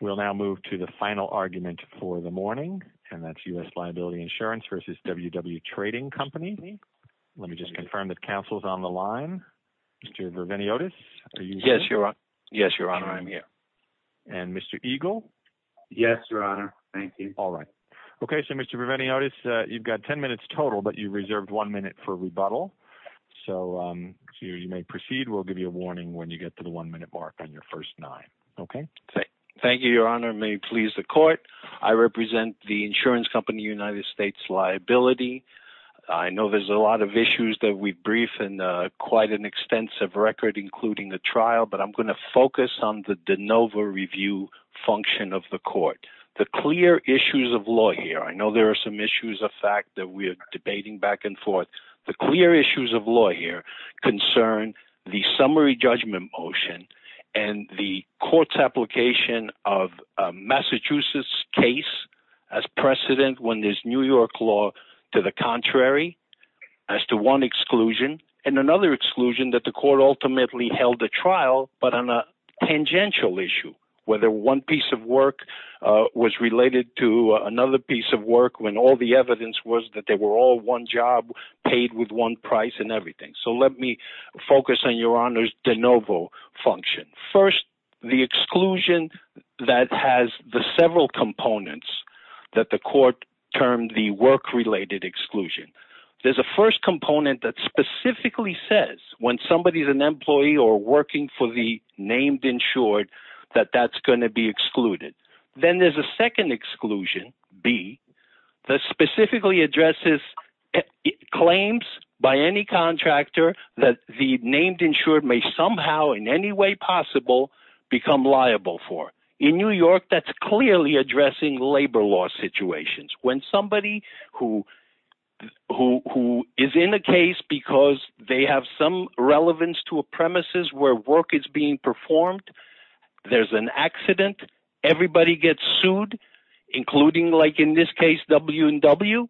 We'll now move to the final argument for the morning, and that's U.S. Liability Insurance v. WW Trading Co., Inc. Let me just confirm that counsel's on the line. Mr. Verveniotis, are you here? Yes, Your Honor. I'm here. And Mr. Eagle? Yes, Your Honor. Thank you. All right. Okay. So, Mr. Verveniotis, you've got 10 minutes total, but you reserved one minute for rebuttal. So, you may proceed. We'll give you a warning when you get to the one-minute mark on your first Okay. Thank you, Your Honor. May it please the Court, I represent the insurance company, United States Liability. I know there's a lot of issues that we've briefed and quite an extensive record, including the trial, but I'm going to focus on the de novo review function of the Court. The clear issues of law here, I know there are some issues of fact that we're debating back and application of a Massachusetts case as precedent when there's New York law to the contrary, as to one exclusion and another exclusion that the Court ultimately held a trial, but on a tangential issue, whether one piece of work was related to another piece of work, when all the evidence was that they were all one job, paid with one price and everything. So, let me focus on Your Honor's de novo function. First, the exclusion that has the several components that the Court termed the work-related exclusion. There's a first component that specifically says when somebody is an employee or working for the named insured, that that's going to be excluded. Then there's a second exclusion, B, that specifically addresses claims by any contractor that the named insured may somehow in any way possible become liable for. In New York, that's clearly addressing labor law situations. When somebody who is in a case because they have some relevance to a premises where work is being performed, there's an accident, everybody gets sued, including like in this case W&W,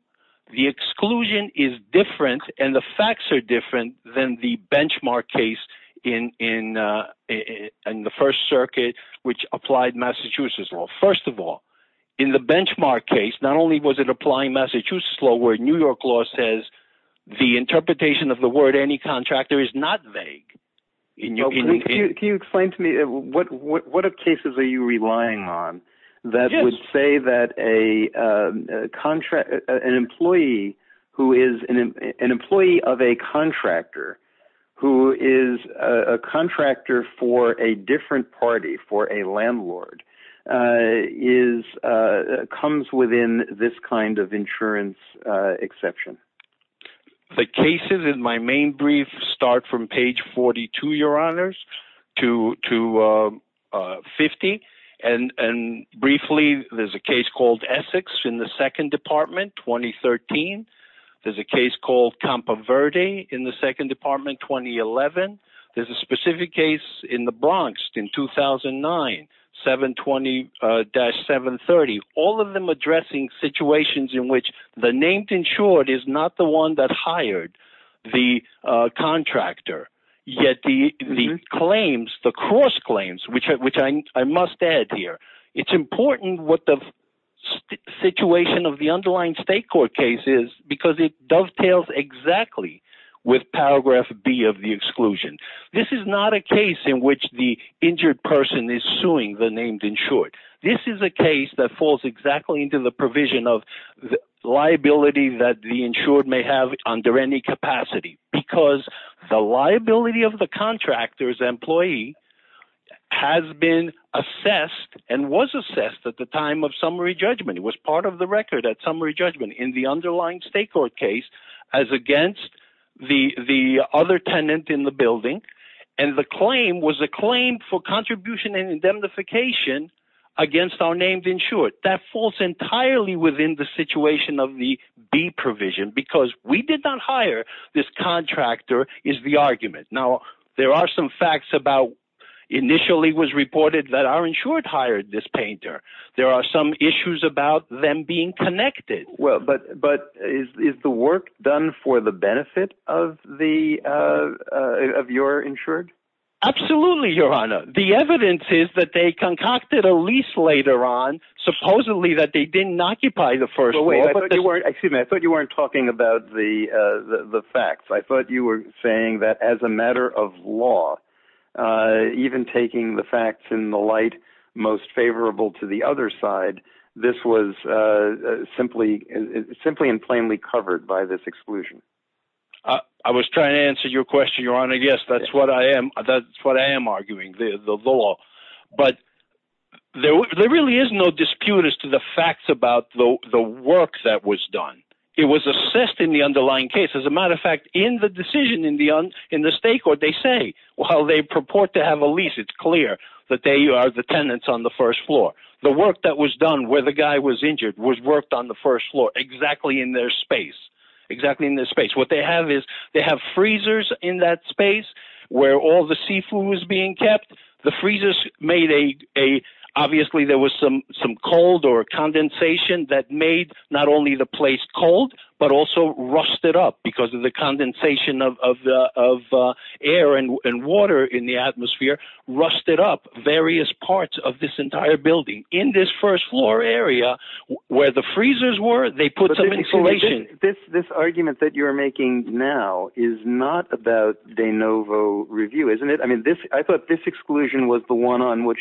the exclusion is different and the facts are different than the benchmark case in the First Circuit which applied Massachusetts law. First of all, in the benchmark case, not only was it applying Massachusetts law where New York law says the interpretation of the word any contractor is not vague. Can you explain to me what cases are you relying on that would say that an employee who is an employee of a contractor who is a contractor for a different party, for a landlord, comes within this kind of insurance exception? The cases in my main brief start from page 42, Your Honors, to 50. Briefly, there's a case called Essex in the Second Department, 2013. There's a case called Campo Verde in the Second Department, 2011. There's a specific case in the 720-730, all of them addressing situations in which the named insured is not the one that hired the contractor, yet the claims, the cross-claims, which I must add here, it's important what the situation of the underlying state court case is because it dovetails exactly with paragraph B of the exclusion. This is not a case in which the injured person is suing the named insured. This is a case that falls exactly into the provision of liability that the insured may have under any capacity because the liability of the contractor's employee has been assessed and was assessed at the time of summary judgment. It was part of the record at summary judgment in the underlying state court case as against the other tenant in the building, and the claim was a claim for contribution and indemnification against our named insured. That falls entirely within the situation of the B provision because we did not hire this contractor is the argument. Now, there are some facts about initially was reported that our insured hired this painter. There are some issues about them being connected. Is the work done for the benefit of your insured? Absolutely, your honor. The evidence is that they concocted a lease later on, supposedly that they didn't occupy the first floor. I thought you weren't talking about the facts. I thought you were saying that as a matter of law, even taking the facts in the light most favorable to the other side, this was simply and plainly covered by this exclusion. I was trying to answer your question, your honor. Yes, that's what I am arguing, the law, but there really is no dispute as to the facts about the work that was done. It was assessed in the underlying case. As a matter of fact, in the decision in the state court, they say while they purport to have a lease, it's clear that they are the tenants on the first floor. The work that was done where the guy was injured was worked on the first floor, exactly in their space. What they have is they have freezers in that space where all the seafood was being kept. Obviously, there was some cold or condensation that made not only the place cold, but also rusted up because of the condensation of air and water in the atmosphere rusted up various parts of this entire building. In this first floor area, where the freezers were, they put some insulation. This argument that you're making now is not about de novo review, isn't it? I thought this exclusion was the one on which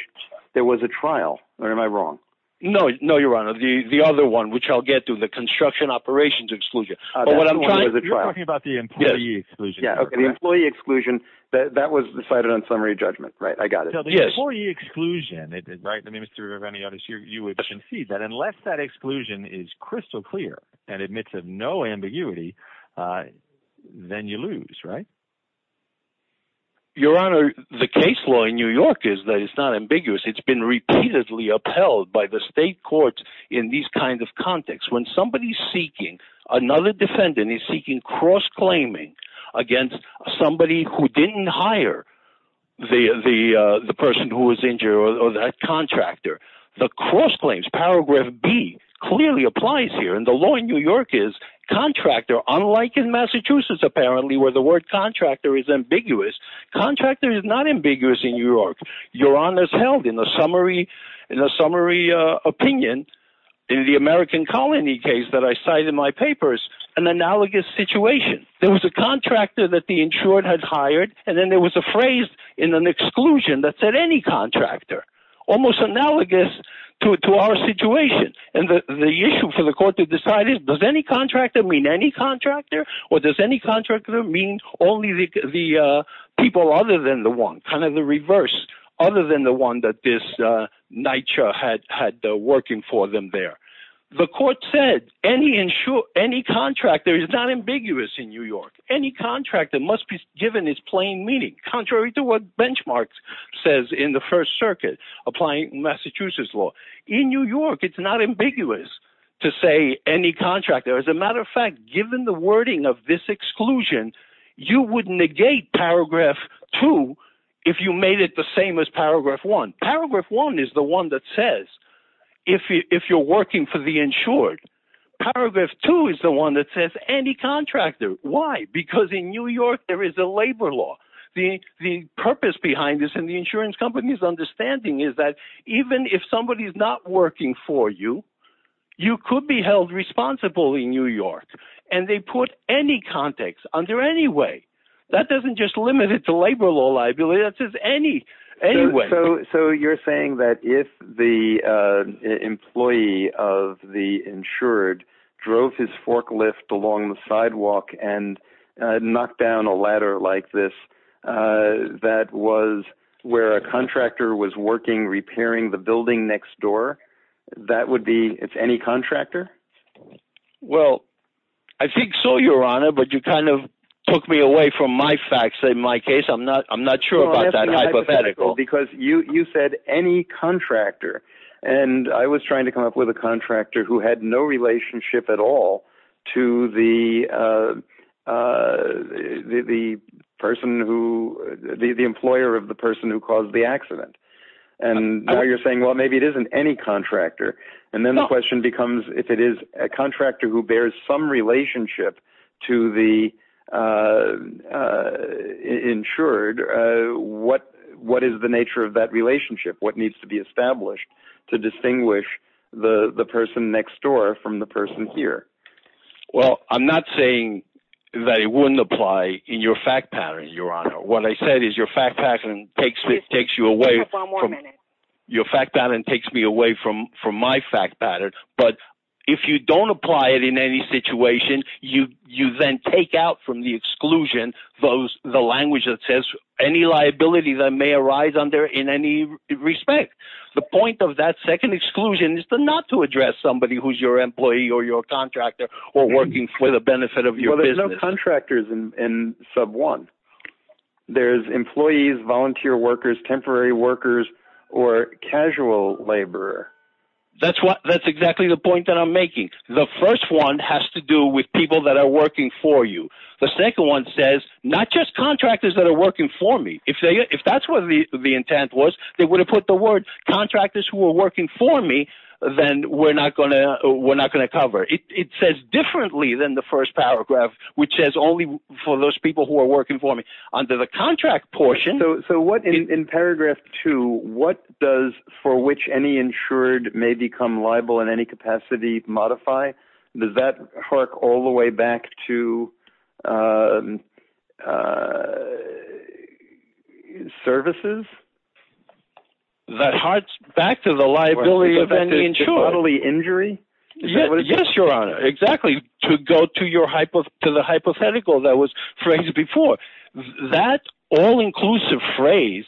there was a trial, or am I wrong? No, your honor. The other one, which I'll get to, the construction operations exclusion. You're talking about the employee exclusion. The employee exclusion, that was decided on summary judgment, right? I got it. The employee exclusion, the minister of any other, you would concede that unless that exclusion is crystal clear and admits of no ambiguity, then you lose, right? Your honor, the case law in New York is that it's not ambiguous. It's been repeatedly upheld by the state courts in these kinds of contexts. When somebody's seeking another defendant, he's seeking cross-claiming against somebody who didn't hire the person who was injured or that contractor. The cross-claims, paragraph B, clearly applies here. The law in New York is contractor, unlike in Massachusetts, apparently, where the word contractor is ambiguous. Contractor is not ambiguous in New York. Your honor's held in a summary opinion in the American Colony case that I cite in my papers, an analogous situation. There was a contractor that the insured had hired, and then there was a phrase in an exclusion that said, any contractor, almost analogous to our situation. The issue for the court to decide is, does any contractor mean any contractor, or does any contractor mean only the people other than the kind of the reverse, other than the one that this NYCHA had working for them there? The court said, any contractor is not ambiguous in New York. Any contractor must be given its plain meaning, contrary to what Benchmark says in the First Circuit, applying Massachusetts law. In New York, it's not ambiguous to say any contractor. As a matter of fact, given the wording of this exclusion, you would negate Paragraph 2 if you made it the same as Paragraph 1. Paragraph 1 is the one that says, if you're working for the insured, Paragraph 2 is the one that says, any contractor. Why? Because in New York, there is a labor law. The purpose behind this in the insurance company's understanding is that even if somebody is not working for you, you could be held responsible in New York. And they put any context under any way. That doesn't just limit it to labor law liability. That says any way. So you're saying that if the employee of the insured drove his forklift along the sidewalk and knocked down a ladder like this, that was where a contractor was working repairing the building next door? That would be, it's any contractor? Well, I think so, Your Honor. But you kind of took me away from my facts in my case. I'm not sure about that hypothetical. Because you said any contractor. And I was trying to come up with a contractor who had no relationship at all to the person who, the employer of the person who the accident. And now you're saying, well, maybe it isn't any contractor. And then the question becomes, if it is a contractor who bears some relationship to the insured, what is the nature of that relationship? What needs to be established to distinguish the person next door from the person here? Well, I'm not saying that it wouldn't apply in your fact pattern, Your Honor. What I said is your fact pattern takes you away from my fact pattern. But if you don't apply it in any situation, you then take out from the exclusion the language that says any liability that may arise under in any respect. The point of that second exclusion is not to address somebody who's your employee or your contractor or working for the benefit of your business. Well, there's no contractors in sub one. There's employees, volunteer workers, temporary workers, or casual laborer. That's what that's exactly the point that I'm making. The first one has to do with people that are working for you. The second one says not just contractors that are working for me. If they if that's what the intent was, they would have put the word contractors who are working for me, then we're not going to we're not going to cover it. It says differently than the first paragraph, which says for those people who are working for me under the contract portion. So what in paragraph two, what does for which any insured may become liable in any capacity modify? Does that work all the way back to services? That hearts back to the liability of any insured bodily injury? Yes, exactly. To go to your hypo to the hypothetical that was phrased before that all inclusive phrase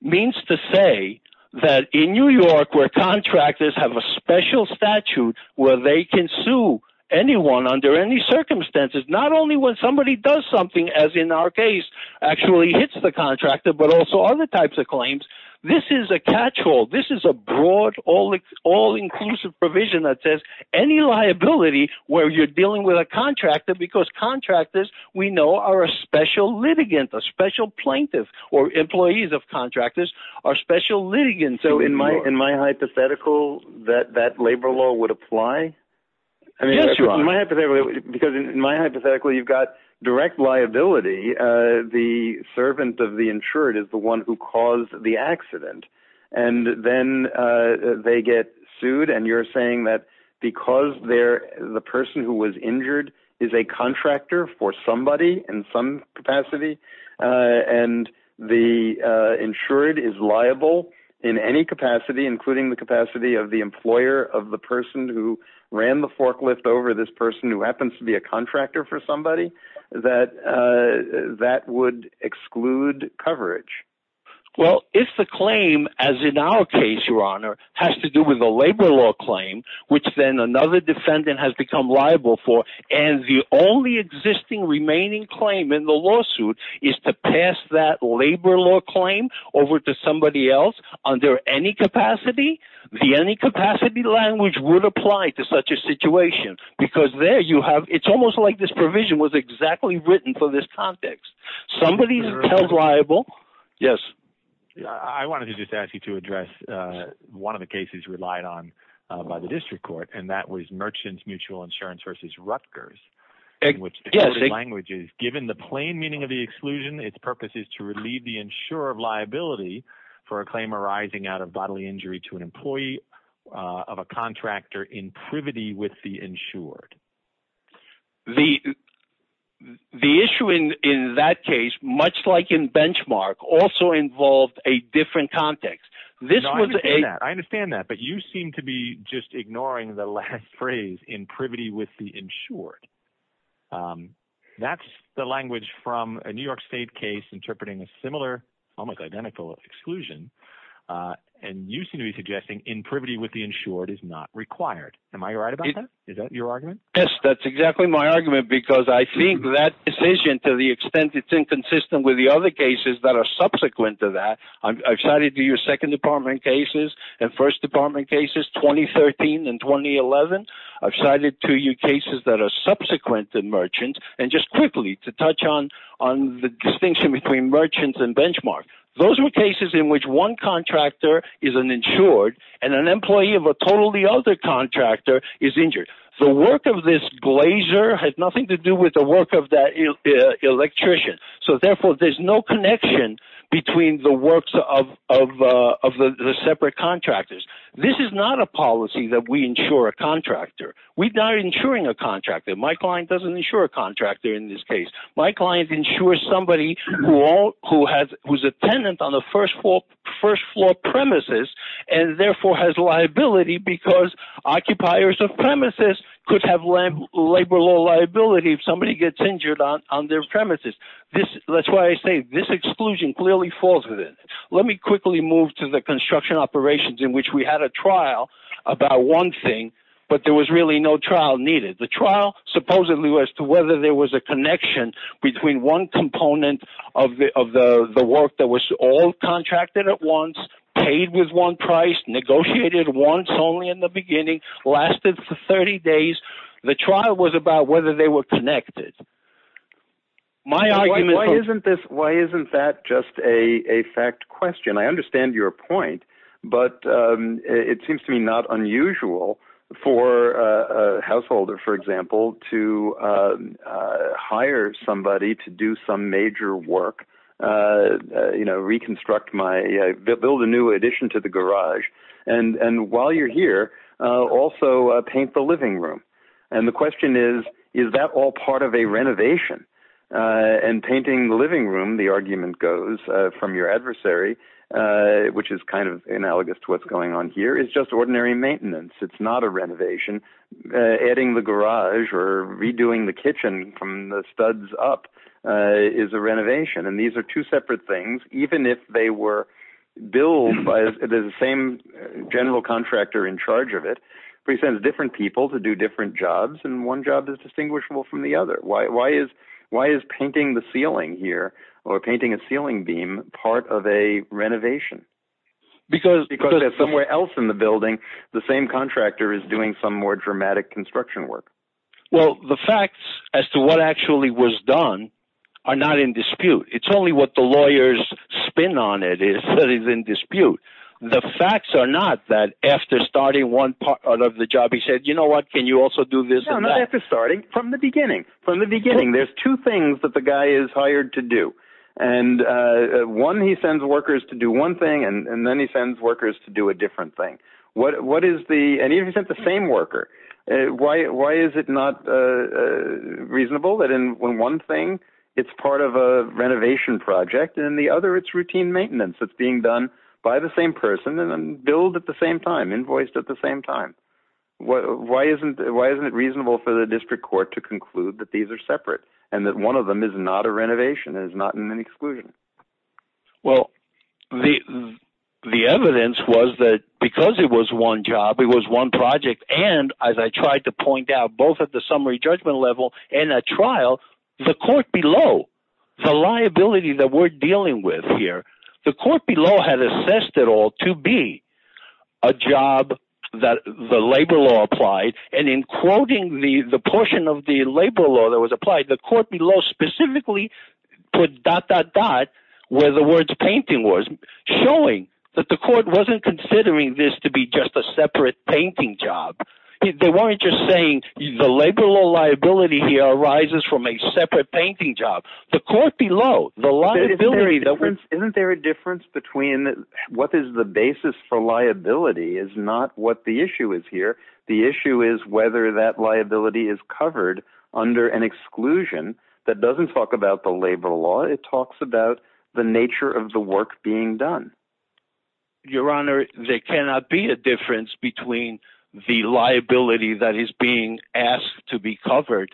means to say that in New York where contractors have a special statute where they can sue anyone under any circumstances, not only when somebody does something, as in our case, actually hits the contractor, but also other types of claims. This is a catch all. This is a broad, all all inclusive provision that says any liability where you're dealing with a contractor because contractors, we know are a special litigant, a special plaintiff, or employees of contractors are special litigants. So in my in my hypothetical, that that labor law would apply. Because in my hypothetical, you've got direct liability. The servant of the insured is the one who caused the accident. And then they get sued. And you're saying that because they're the person who was injured is a contractor for somebody in some capacity. And the insured is liable in any capacity, including the capacity of the employer of the person who ran the forklift over this person who happens to be a contractor for somebody that that would exclude coverage. Well, if the claim, as in our case, Your Honor, has to do with a labor law claim, which then another defendant has become liable for, and the only existing remaining claim in the lawsuit is to pass that labor law claim over to somebody else under any capacity, the any capacity language would apply to such a situation. Because there you have it's almost like this provision was exactly written for this context. Somebody's held liable. Yes. I wanted to just ask you to address one of the cases relied on by the district court. And that was merchants mutual insurance versus Rutgers. In which the language is given the plain meaning of the exclusion, its purpose is to relieve the insurer of liability for a claim arising out of bodily injury to an employee of a contractor in the insured. The issue in that case, much like in benchmark, also involved a different context. I understand that. But you seem to be just ignoring the last phrase in privity with the insured. That's the language from a New York State case interpreting a similar, almost identical, exclusion. And you seem to be suggesting in privity with the insured is not required. Am I right about that? Is that your argument? Yes, that's exactly my argument, because I think that decision to the extent it's inconsistent with the other cases that are subsequent to that. I've cited to your second department cases and first department cases, 2013 and 2011. I've cited to you cases that are subsequent to merchants. And just quickly to touch on on the distinction between merchants and benchmark. Those were cases in which one contractor is an insured and an employee of a totally other contractor is injured. The work of this blazer has nothing to do with the work of that electrician. So therefore, there's no connection between the works of the separate contractors. This is not a policy that we insure a contractor. We're not insuring a contractor. My client doesn't insure a contractor in this case. My client insures somebody who was a tenant on the first floor premises and therefore has liability because occupiers of premises could have labor law liability if somebody gets injured on their premises. That's why I say this exclusion clearly falls within. Let me quickly move to the construction operations in which we had a trial about one thing, but there was really no trial needed. The trial supposedly was to whether there was a connection between one component of the work that was all contracted at once, paid with one price, negotiated once only in the beginning, lasted for 30 days. The trial was about whether they were connected. Why isn't that just a fact question? I understand your point, but it seems to me not unusual for a householder, for example, to hire somebody to do some major work, build a new addition to the garage, and while you're here, also paint the living room. The question is, is that all part of a renovation? Painting the living room, the argument goes, from your adversary, which is analogous to what's going on here, is just ordinary maintenance. It's not a renovation. Adding the garage or redoing the kitchen from the studs up is a renovation. These are two separate things. Even if they were built by the same general contractor in charge of it, presents different people to do different jobs, and one job is distinguishable from the other. Why is painting a ceiling beam part of a renovation? Because somewhere else in the building, the same contractor is doing some more dramatic construction work. The facts as to what actually was done are not in dispute. It's only what the lawyers spin on it that is in dispute. The facts are not that after starting one part of the job, we say, you know what, can you also do this and that? No, not after starting, from the beginning. From the beginning, there's two things that the guy is hired to do. One, he sends workers to do one thing, and then he sends workers to do a different thing. Even if he sent the same worker, why is it not reasonable that in one thing, it's part of a renovation project, and in the other, it's routine maintenance that's being done by the same person, and then built at the same time, why isn't it reasonable for the district court to conclude that these are separate, and that one of them is not a renovation, is not an exclusion? Well, the evidence was that because it was one job, it was one project, and as I tried to point out, both at the summary judgment level and at trial, the court below, the liability that we're applying, and in quoting the portion of the labor law that was applied, the court below specifically put dot, dot, dot, where the words painting was, showing that the court wasn't considering this to be just a separate painting job. They weren't just saying the labor law liability here arises from a separate painting job. The court below, the liability that we're... The issue is whether that liability is covered under an exclusion that doesn't talk about the labor law. It talks about the nature of the work being done. Your Honor, there cannot be a difference between the liability that is being asked to be covered,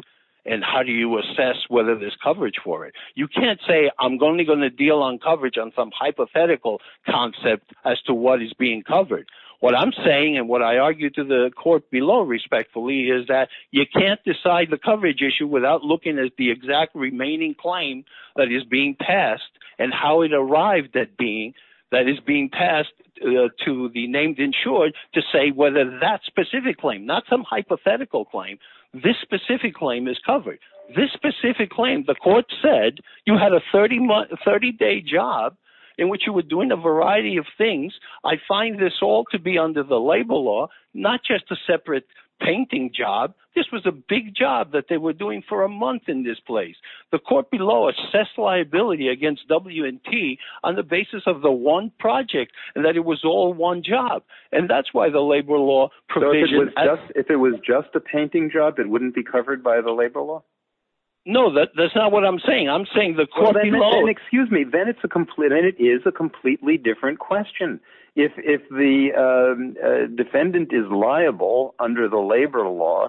and how do you assess whether there's coverage for it? You can't say, I'm only going to deal on coverage on some hypothetical concept as to what is being covered. What I'm saying, and what I argued to the court below, respectfully, is that you can't decide the coverage issue without looking at the exact remaining claim that is being passed, and how it arrived at being, that is being passed to the named insured to say whether that specific claim, not some hypothetical claim, this specific claim is covered. This specific claim, the court said, you had a 30-day job in which you were doing a variety of things. I find this all to be under the labor law, not just a separate painting job. This was a big job that they were doing for a month in this place. The court below assessed liability against W&T on the basis of the one project, and that it was all one job, and that's why the labor law provision... If it was just a painting job, it wouldn't be covered by the labor law? No, that's not what I'm saying. I'm saying the court below... Defendant is liable under the labor law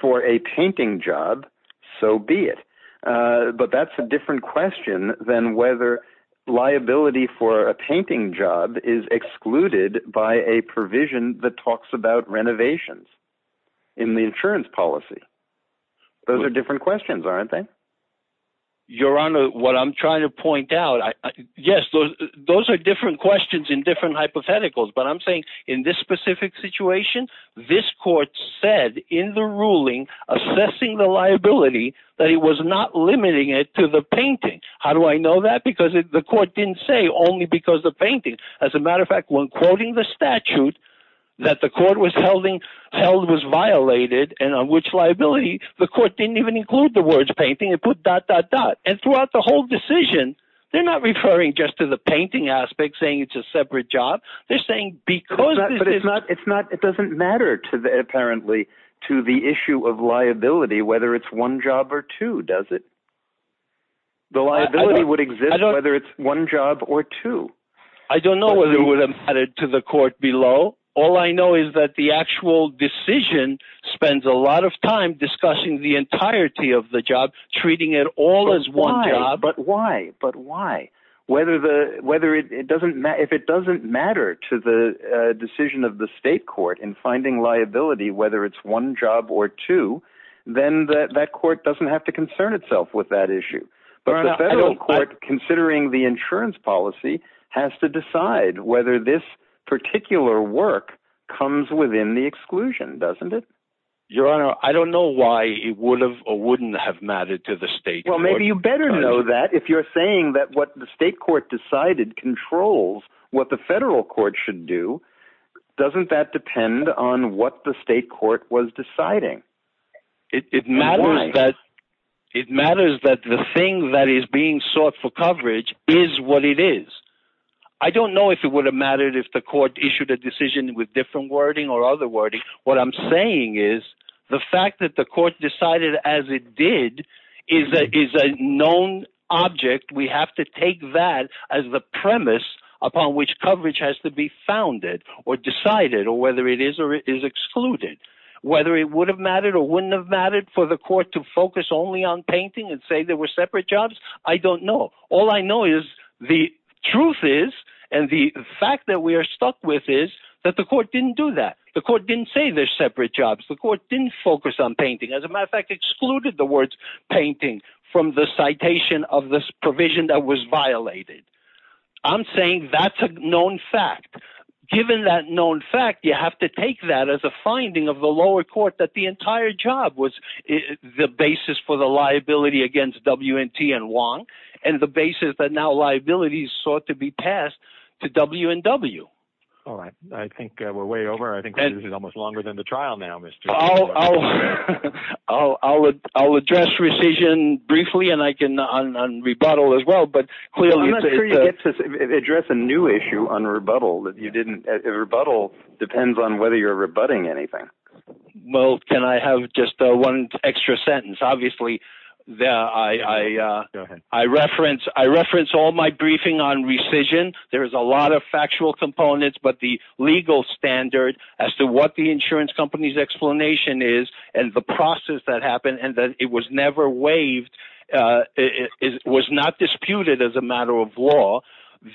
for a painting job, so be it, but that's a different question than whether liability for a painting job is excluded by a provision that talks about renovations in the insurance policy. Those are different questions, aren't they? Your Honor, what I'm trying to point out, yes, those are different questions in different hypotheticals, but I'm saying in this specific situation, this court said in the ruling assessing the liability that it was not limiting it to the painting. How do I know that? Because the court didn't say only because the painting. As a matter of fact, when quoting the statute that the court was held was violated and on which liability, the court didn't even include the words painting. It put dot, dot, dot, and throughout the whole decision, they're not referring just to the painting aspect, saying it's a separate job. They're saying because... But it's not, it's not, it doesn't matter to the, apparently, to the issue of liability, whether it's one job or two, does it? The liability would exist whether it's one job or two. I don't know whether it would have mattered to the court below. All I know is that the actual decision spends a lot of time discussing the entirety of the job, treating it all as one job. But why? But why? If it doesn't matter to the decision of the state court in finding liability, whether it's one job or two, then that court doesn't have to concern itself with that issue. But the federal court, considering the insurance policy, has to decide whether this particular work comes within the exclusion, doesn't it? Your Honor, I don't know why it would have or wouldn't have mattered to the state. Well, maybe you better know that if you're saying that what the state court decided controls what the federal court should do. Doesn't that depend on what the state court was deciding? It matters that the thing that is being sought for coverage is what it is. I don't know if it would have mattered if the court issued a decision with wording or other wording. What I'm saying is the fact that the court decided as it did is a known object. We have to take that as the premise upon which coverage has to be founded or decided or whether it is or is excluded. Whether it would have mattered or wouldn't have mattered for the court to focus only on painting and say there were separate jobs, I don't know. All I know is the truth is and the fact that we are stuck with is that the court didn't do that. The court didn't say there's separate jobs. The court didn't focus on painting. As a matter of fact, excluded the words painting from the citation of this provision that was violated. I'm saying that's a known fact. Given that known fact, you have to take that as a finding of the lower court that the entire job was the basis for the liability against W&T and Wong and the basis that now liabilities sought to be passed to W&W. All right. I think we're way over. I think this is almost longer than the trial now, Mr. I'll address rescission briefly and I can on rebuttal as well. But I'm not sure you get to address a new issue on rebuttal that you didn't. Rebuttal depends on whether you're rebutting anything. Well, can I have just one extra sentence? Obviously, I reference all my briefing on rescission. There is a lot of factual components, but the legal standard as to what the insurance company's explanation is and the process that happened and that it was never waived was not disputed as a matter of law.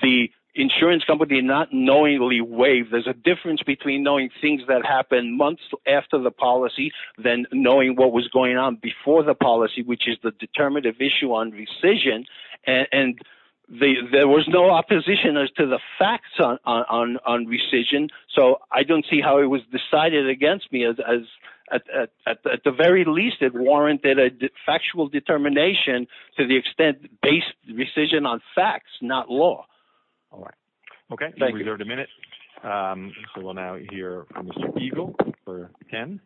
The insurance company not knowingly waived. There's a difference between knowing things that happened months after the policy than knowing what was going on before the policy, which is the determinative issue on rescission. And there was no opposition as to the facts on rescission. So I don't see how it was decided against me. At the very least, it warranted a factual determination to the extent based rescission on facts, not law. All right. Okay. We have a minute. So we'll now hear from Mr. Eagle for Ken.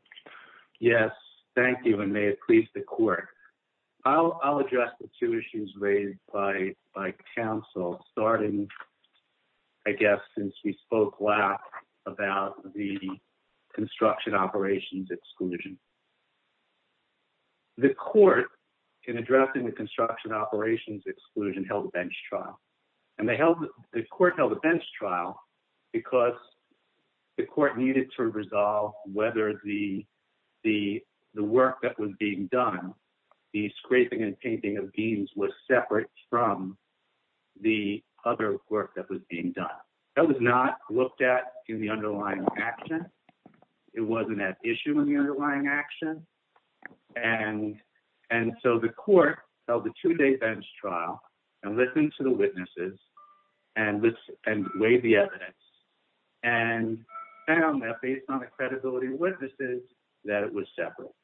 Yes. Thank you. And may it please the court. I'll address the two issues raised by counsel, starting, I guess, since we spoke last about the construction operations exclusion. The court in addressing the construction operations exclusion held a bench trial. And the court held a bench trial because the court needed to resolve whether the work that was being done, the scraping and painting of beams was separate from the other work that was being done. That was not looked at in the underlying action. It wasn't at issue in the witnesses and weighed the evidence and found that based on the credibility of witnesses, that it was separate.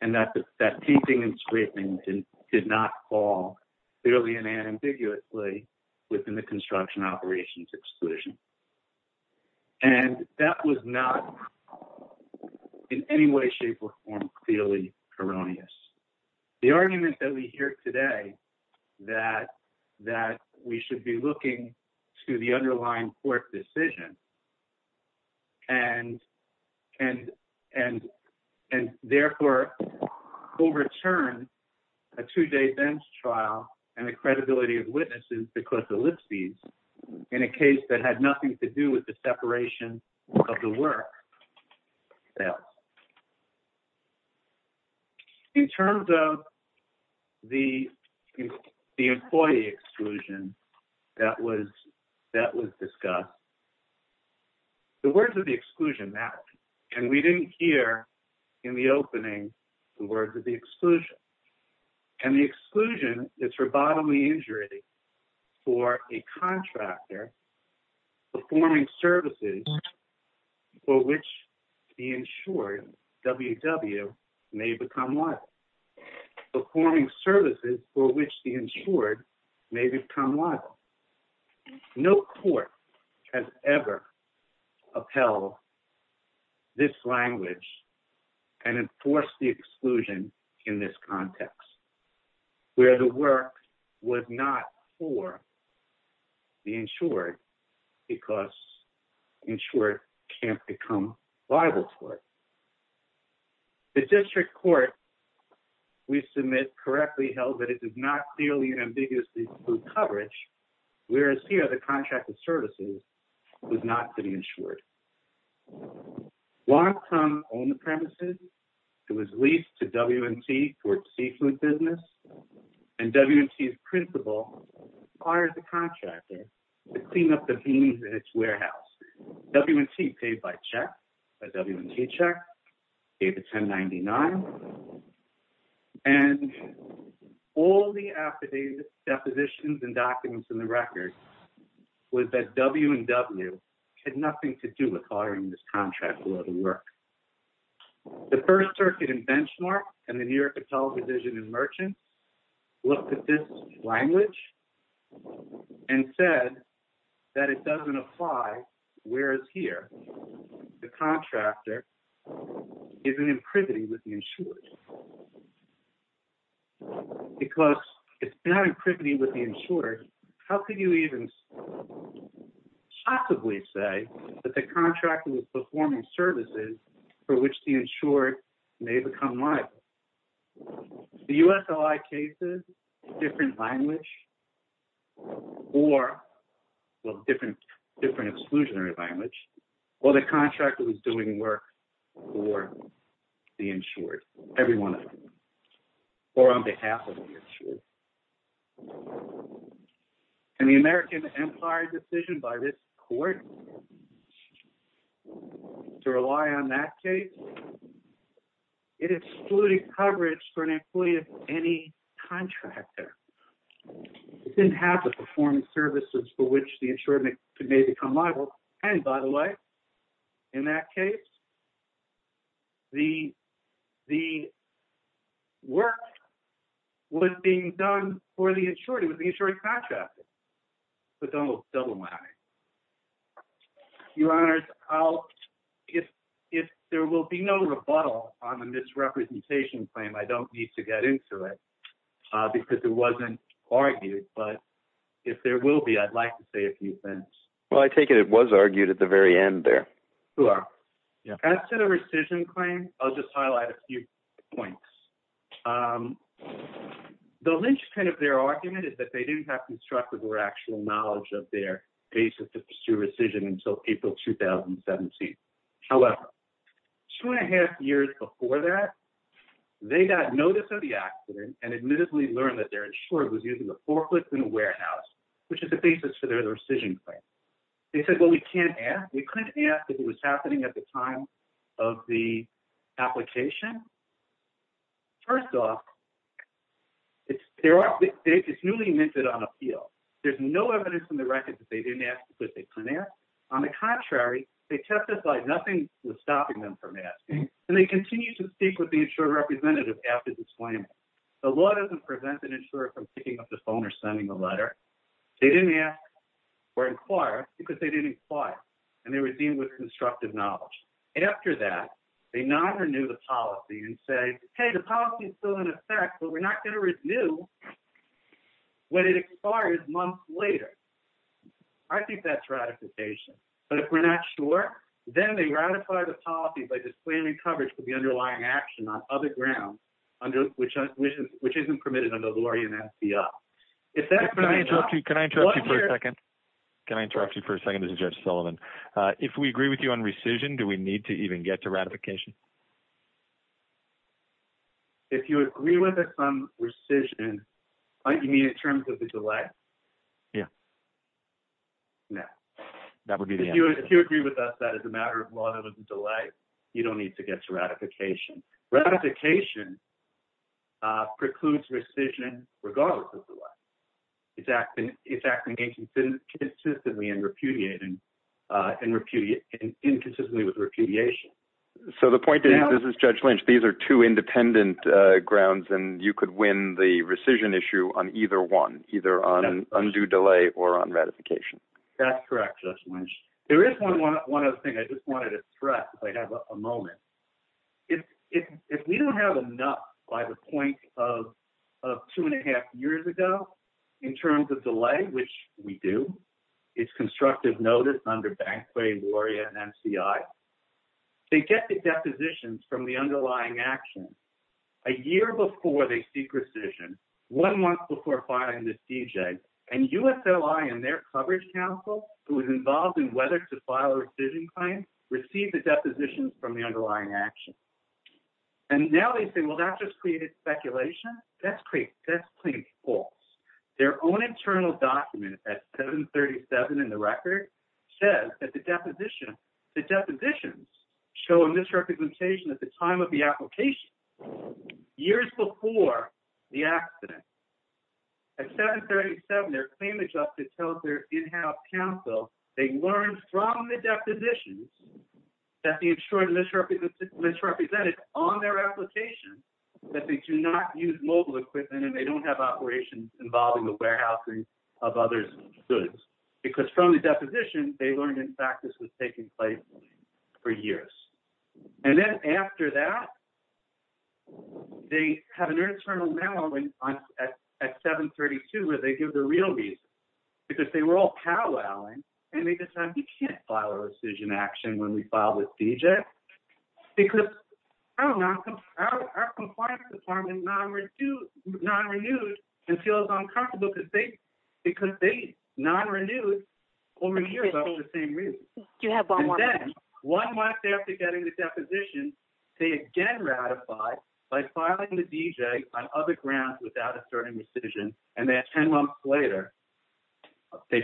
And that painting and scraping did not fall clearly and ambiguously within the construction operations exclusion. And that was not in any way, shape or form clearly erroneous. The argument that we hear today that we should be looking to the underlying court decision and therefore overturn a two day bench trial and the credibility of witnesses is in a case that had nothing to do with the separation of the work. In terms of the employee exclusion that was discussed, the words of the exclusion matter. And we didn't hear in the opening the words of the exclusion. And the exclusion is for bodily injury for a contractor performing services for which the insured, WW, may become liable. Performing services for which the insured may become liable. No court has ever upheld this language and enforced the exclusion in this context. Where the work was not for the insured because insured can't become liable for it. The district court we submit correctly held that it did not clearly and ambiguously include coverage, whereas here the contracted services was not insured. On the premises, it was leased to WMT for seafood business and WMT's principal hired the contractor to clean up the beans in its warehouse. WMT paid by check, a WMT check, gave it 1099. And all the affidavits, depositions, and documents in the record was that WMT had nothing to do with acquiring this contract for the work. The First Circuit and Benchmark and the New York Intellectual Provision and Merchants looked at this language and said that it doesn't apply, whereas here, the contractor is in imprivity with the insured. Because it's not in privity with the insured, how could you even possibly say that the contractor was performing services for which the insured may become liable? The USOI cases, different language, or, well, different exclusionary language, or the contractor was doing work for the insured, every one of them, or on behalf of the insured. And the American Empire decision by this court to rely on that case, it excluded coverage for an employee of any contractor. It didn't have the performance services for which the insured may become liable. And by the way, in that case, the work was being done for the insured, it was the insured contractor. So it's almost a double whammy. Your Honors, if there will be no rebuttal on the misrepresentation claim, I don't need to get into it because it wasn't argued, but if there will be, I'd like to say a few things. Well, I take it it was argued at the very end there. Sure. As to the rescission claim, I'll just highlight a few points. The linchpin of their argument is that they didn't have constructive or actual knowledge of their basis to pursue rescission until April, 2017. However, two and a half years before that, they got notice of the accident and admittedly learned that their insured was using a forklift in a warehouse, which is the basis for their rescission claim. They said, well, we can't ask. First off, it's newly minted on appeal. There's no evidence in the record that they didn't ask because they couldn't ask. On the contrary, they testified nothing was stopping them from asking, and they continue to speak with the insured representative after the disclaimer. The law doesn't prevent an insurer from picking up the phone or sending a letter. They didn't ask or inquire because they didn't inquire and they were dealing with constructive knowledge. After that, they not renew the policy and say, hey, the policy is still in effect, but we're not going to renew when it expires months later. I think that's ratification. But if we're not sure, then they ratify the policy by disclaiming coverage for the underlying action on other grounds, which isn't permitted under the Lawyer and FBI. Can I interrupt you for a second? Can I interrupt you for a second? This is Jeff Sullivan. If we agree with you on rescission, do we need to even get to ratification? If you agree with us on rescission, you mean in terms of the delay? Yeah. No. That would be the answer. If you agree with us that as a matter of law, there was a delay, you don't need to get to ratification. Ratification precludes rescission regardless of the delay. It's acting inconsistently and inconsistently with repudiation. So the point is, this is Judge Lynch, these are two independent grounds and you could win the rescission issue on either one, either on undue delay or on ratification. That's correct, Judge Lynch. There is one other thing I just wanted to stress if I have a moment. If we don't have enough by the point of two and a half years ago in terms of delay, which we do, it's constructive notice under Banquet, Laurier, and NCI, they get the depositions from the underlying action a year before they seek rescission, one month before filing the CJ, and USLI and their coverage counsel who is involved in whether to file a rescission claim receive the depositions from the underlying action. And now they say, well, that just created speculation. That's clearly false. Their own internal document at 737 in the record says that the depositions show a misrepresentation at the time of the application, years before the accident. At 737, their claim adjuster tells their in-house counsel they learned from the depositions that the insured misrepresented on their application that they do not use mobile equipment and they don't have operations involving the warehousing of others' goods. Because from the deposition, they learned, in fact, this was taking place for years. And then after that, they have an internal memo at 732 where they give the real because they were all pow-wowing. And at this time, we can't file a rescission action when we file the CJ because our compliance department is non-renewed and feels uncomfortable because they non-renewed over the years for the same reason. And then one month after getting the deposition, they again ratify by filing the CJ on other grounds without asserting rescission. And then 10 months later, they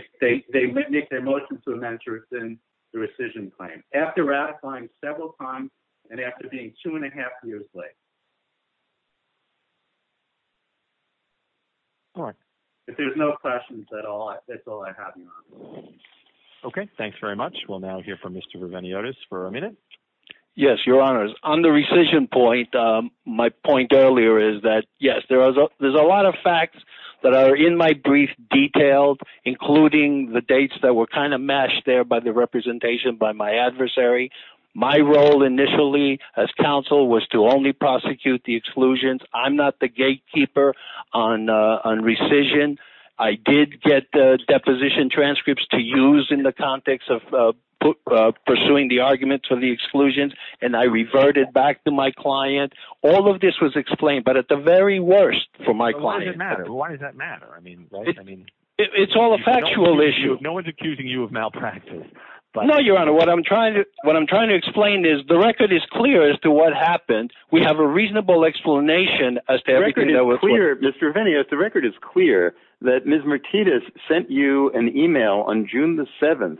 make their motion to amend the rescission claim. After ratifying several times and after being two and a half years late. If there's no questions at all, that's all I have, Your Honor. Okay. Thanks very much. We'll now hear from Mr. Reveniotis for a minute. Yes, Your Honor. On the rescission point, my point earlier is that yes, there's a my brief detailed, including the dates that were kind of matched there by the representation by my adversary. My role initially as counsel was to only prosecute the exclusions. I'm not the gatekeeper on rescission. I did get deposition transcripts to use in the context of pursuing the arguments for the exclusions. And I reverted back to my client. All of this was explained, but at the very worst for my client. Why does that matter? I mean, it's all a factual issue. No one's accusing you of malpractice. No, Your Honor. What I'm trying to explain is the record is clear as to what happened. We have a reasonable explanation as to everything that was clear. Mr. Reveniotis, the record is clear that Ms. Martinez sent you an email on June the 7th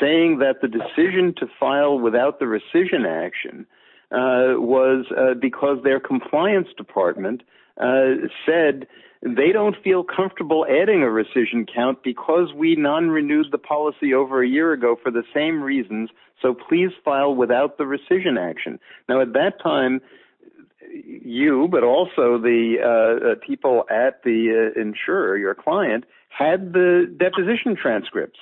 saying that the decision to file without the rescission action was because their compliance department said they don't feel comfortable adding a rescission count because we non-renewed the policy over a year ago for the same reasons. So please file without the rescission action. Now, at that time, you, but also the people at the insurer, your client, had the deposition transcripts.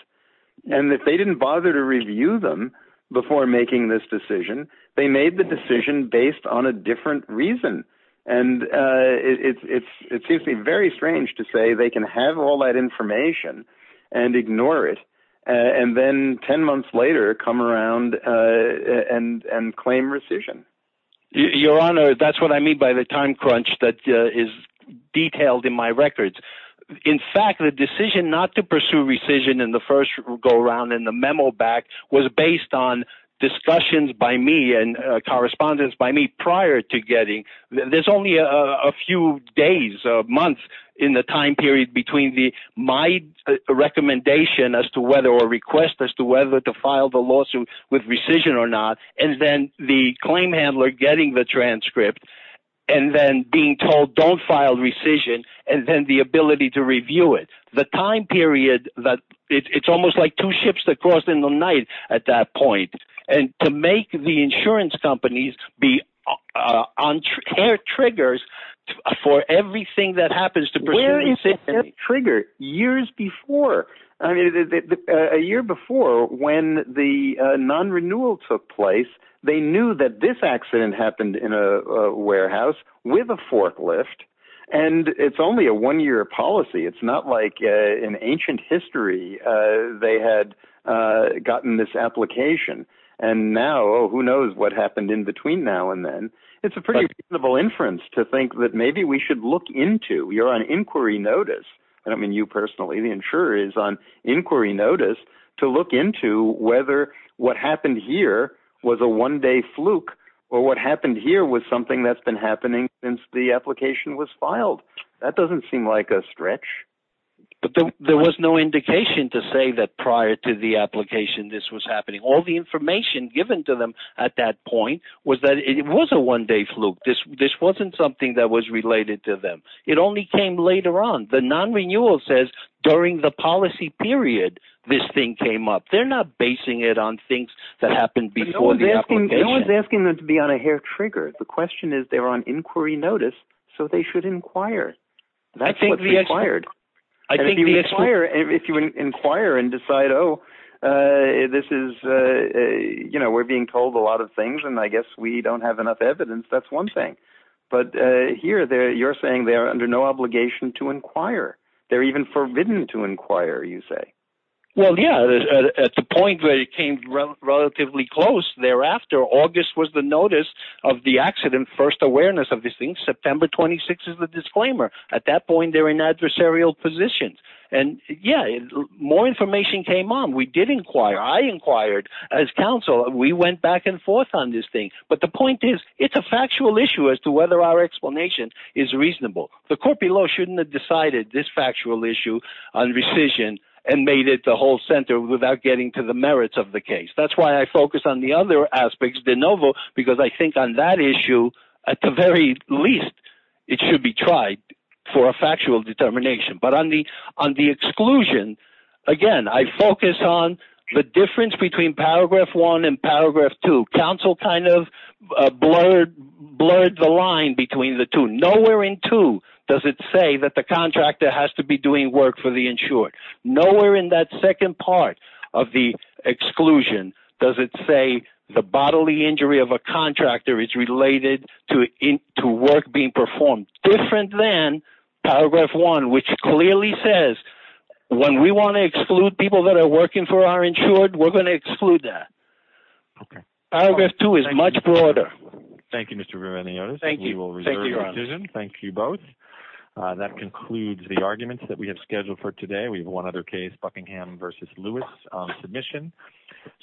And if they didn't review them before making this decision, they made the decision based on a different reason. And it seems very strange to say they can have all that information and ignore it. And then 10 months later, come around and claim rescission. Your Honor, that's what I mean by the time crunch that is detailed in my records. In fact, the decision not to pursue rescission in the first go around in the memo back was based on discussions by me and correspondence by me prior to getting. There's only a few days, months in the time period between my recommendation as to whether or request as to whether to file the lawsuit with rescission or not. And then the claim handler getting the transcript and then being told don't file rescission and then the ability to two ships that crossed in the night at that point. And to make the insurance companies be on air triggers for everything that happens to bring a trigger years before a year before when the non-renewal took place, they knew that this accident happened in a warehouse with a forklift. And it's only a one-year policy. It's not like in ancient history, they had gotten this application and now who knows what happened in between now and then. It's a pretty reasonable inference to think that maybe we should look into. You're on inquiry notice. I don't mean you personally, the insurer is on inquiry notice to look into whether what happened here was a one-day fluke or what happened here was something that's been happening since the application was filed. That doesn't seem like a stretch. But there was no indication to say that prior to the application, this was happening. All the information given to them at that point was that it was a one-day fluke. This wasn't something that was related to them. It only came later on. The non-renewal says during the policy period, this thing came up. They're not basing it on things that happened before the application. No one's asking them to be on a hair trigger. The question is they're on inquiry notice, so they should inquire. That's what's required. If you inquire and decide, oh, we're being told a lot of things and I guess we don't have enough evidence, that's one thing. But here, you're saying they are under no obligation to inquire. They're even forbidden to inquire, you say. Well, yeah. At the point where it came relatively close thereafter, August was the notice of the accident, first awareness of this thing. September 26th is the disclaimer. At that point, they're in adversarial positions. More information came on. We did inquire. I inquired as counsel. We went back and forth on this thing. But the point is, it's a factual issue as to whether our explanation is reasonable. The court below shouldn't have decided this factual issue on rescission and made it the whole center without getting to the merits of the case. That's why I focus on the other aspects de novo, because I think on that issue, at the very least, it should be tried for a factual determination. But on the exclusion, again, I focus on the difference between paragraph 1 and paragraph 2. Counsel kind of blurred the line between the two. Nowhere in 2 does it say that the contractor has to be doing work for the insured. Nowhere in that second part of the exclusion does it say the bodily injury of a contractor is related to work being performed, different than paragraph 1, which clearly says, when we want to exclude people that are working for our insured, we're going to exclude that. Okay. Paragraph 2 is much broader. Thank you, Mr. Roueniotis. We will reserve your decision. Thank you both. That concludes the arguments that we have scheduled for today. We have one other case, Buckingham versus Lewis submission.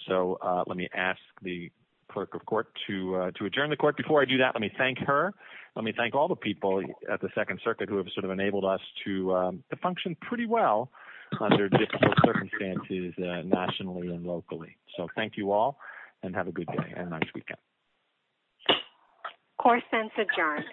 So let me ask the clerk of court to adjourn the court. Before I do that, let me thank her. Let me thank all the people at the Second Circuit who have sort of enabled us to function pretty well under difficult circumstances nationally and locally. So thank you all, and have a good day and nice weekend. Court sents adjourned.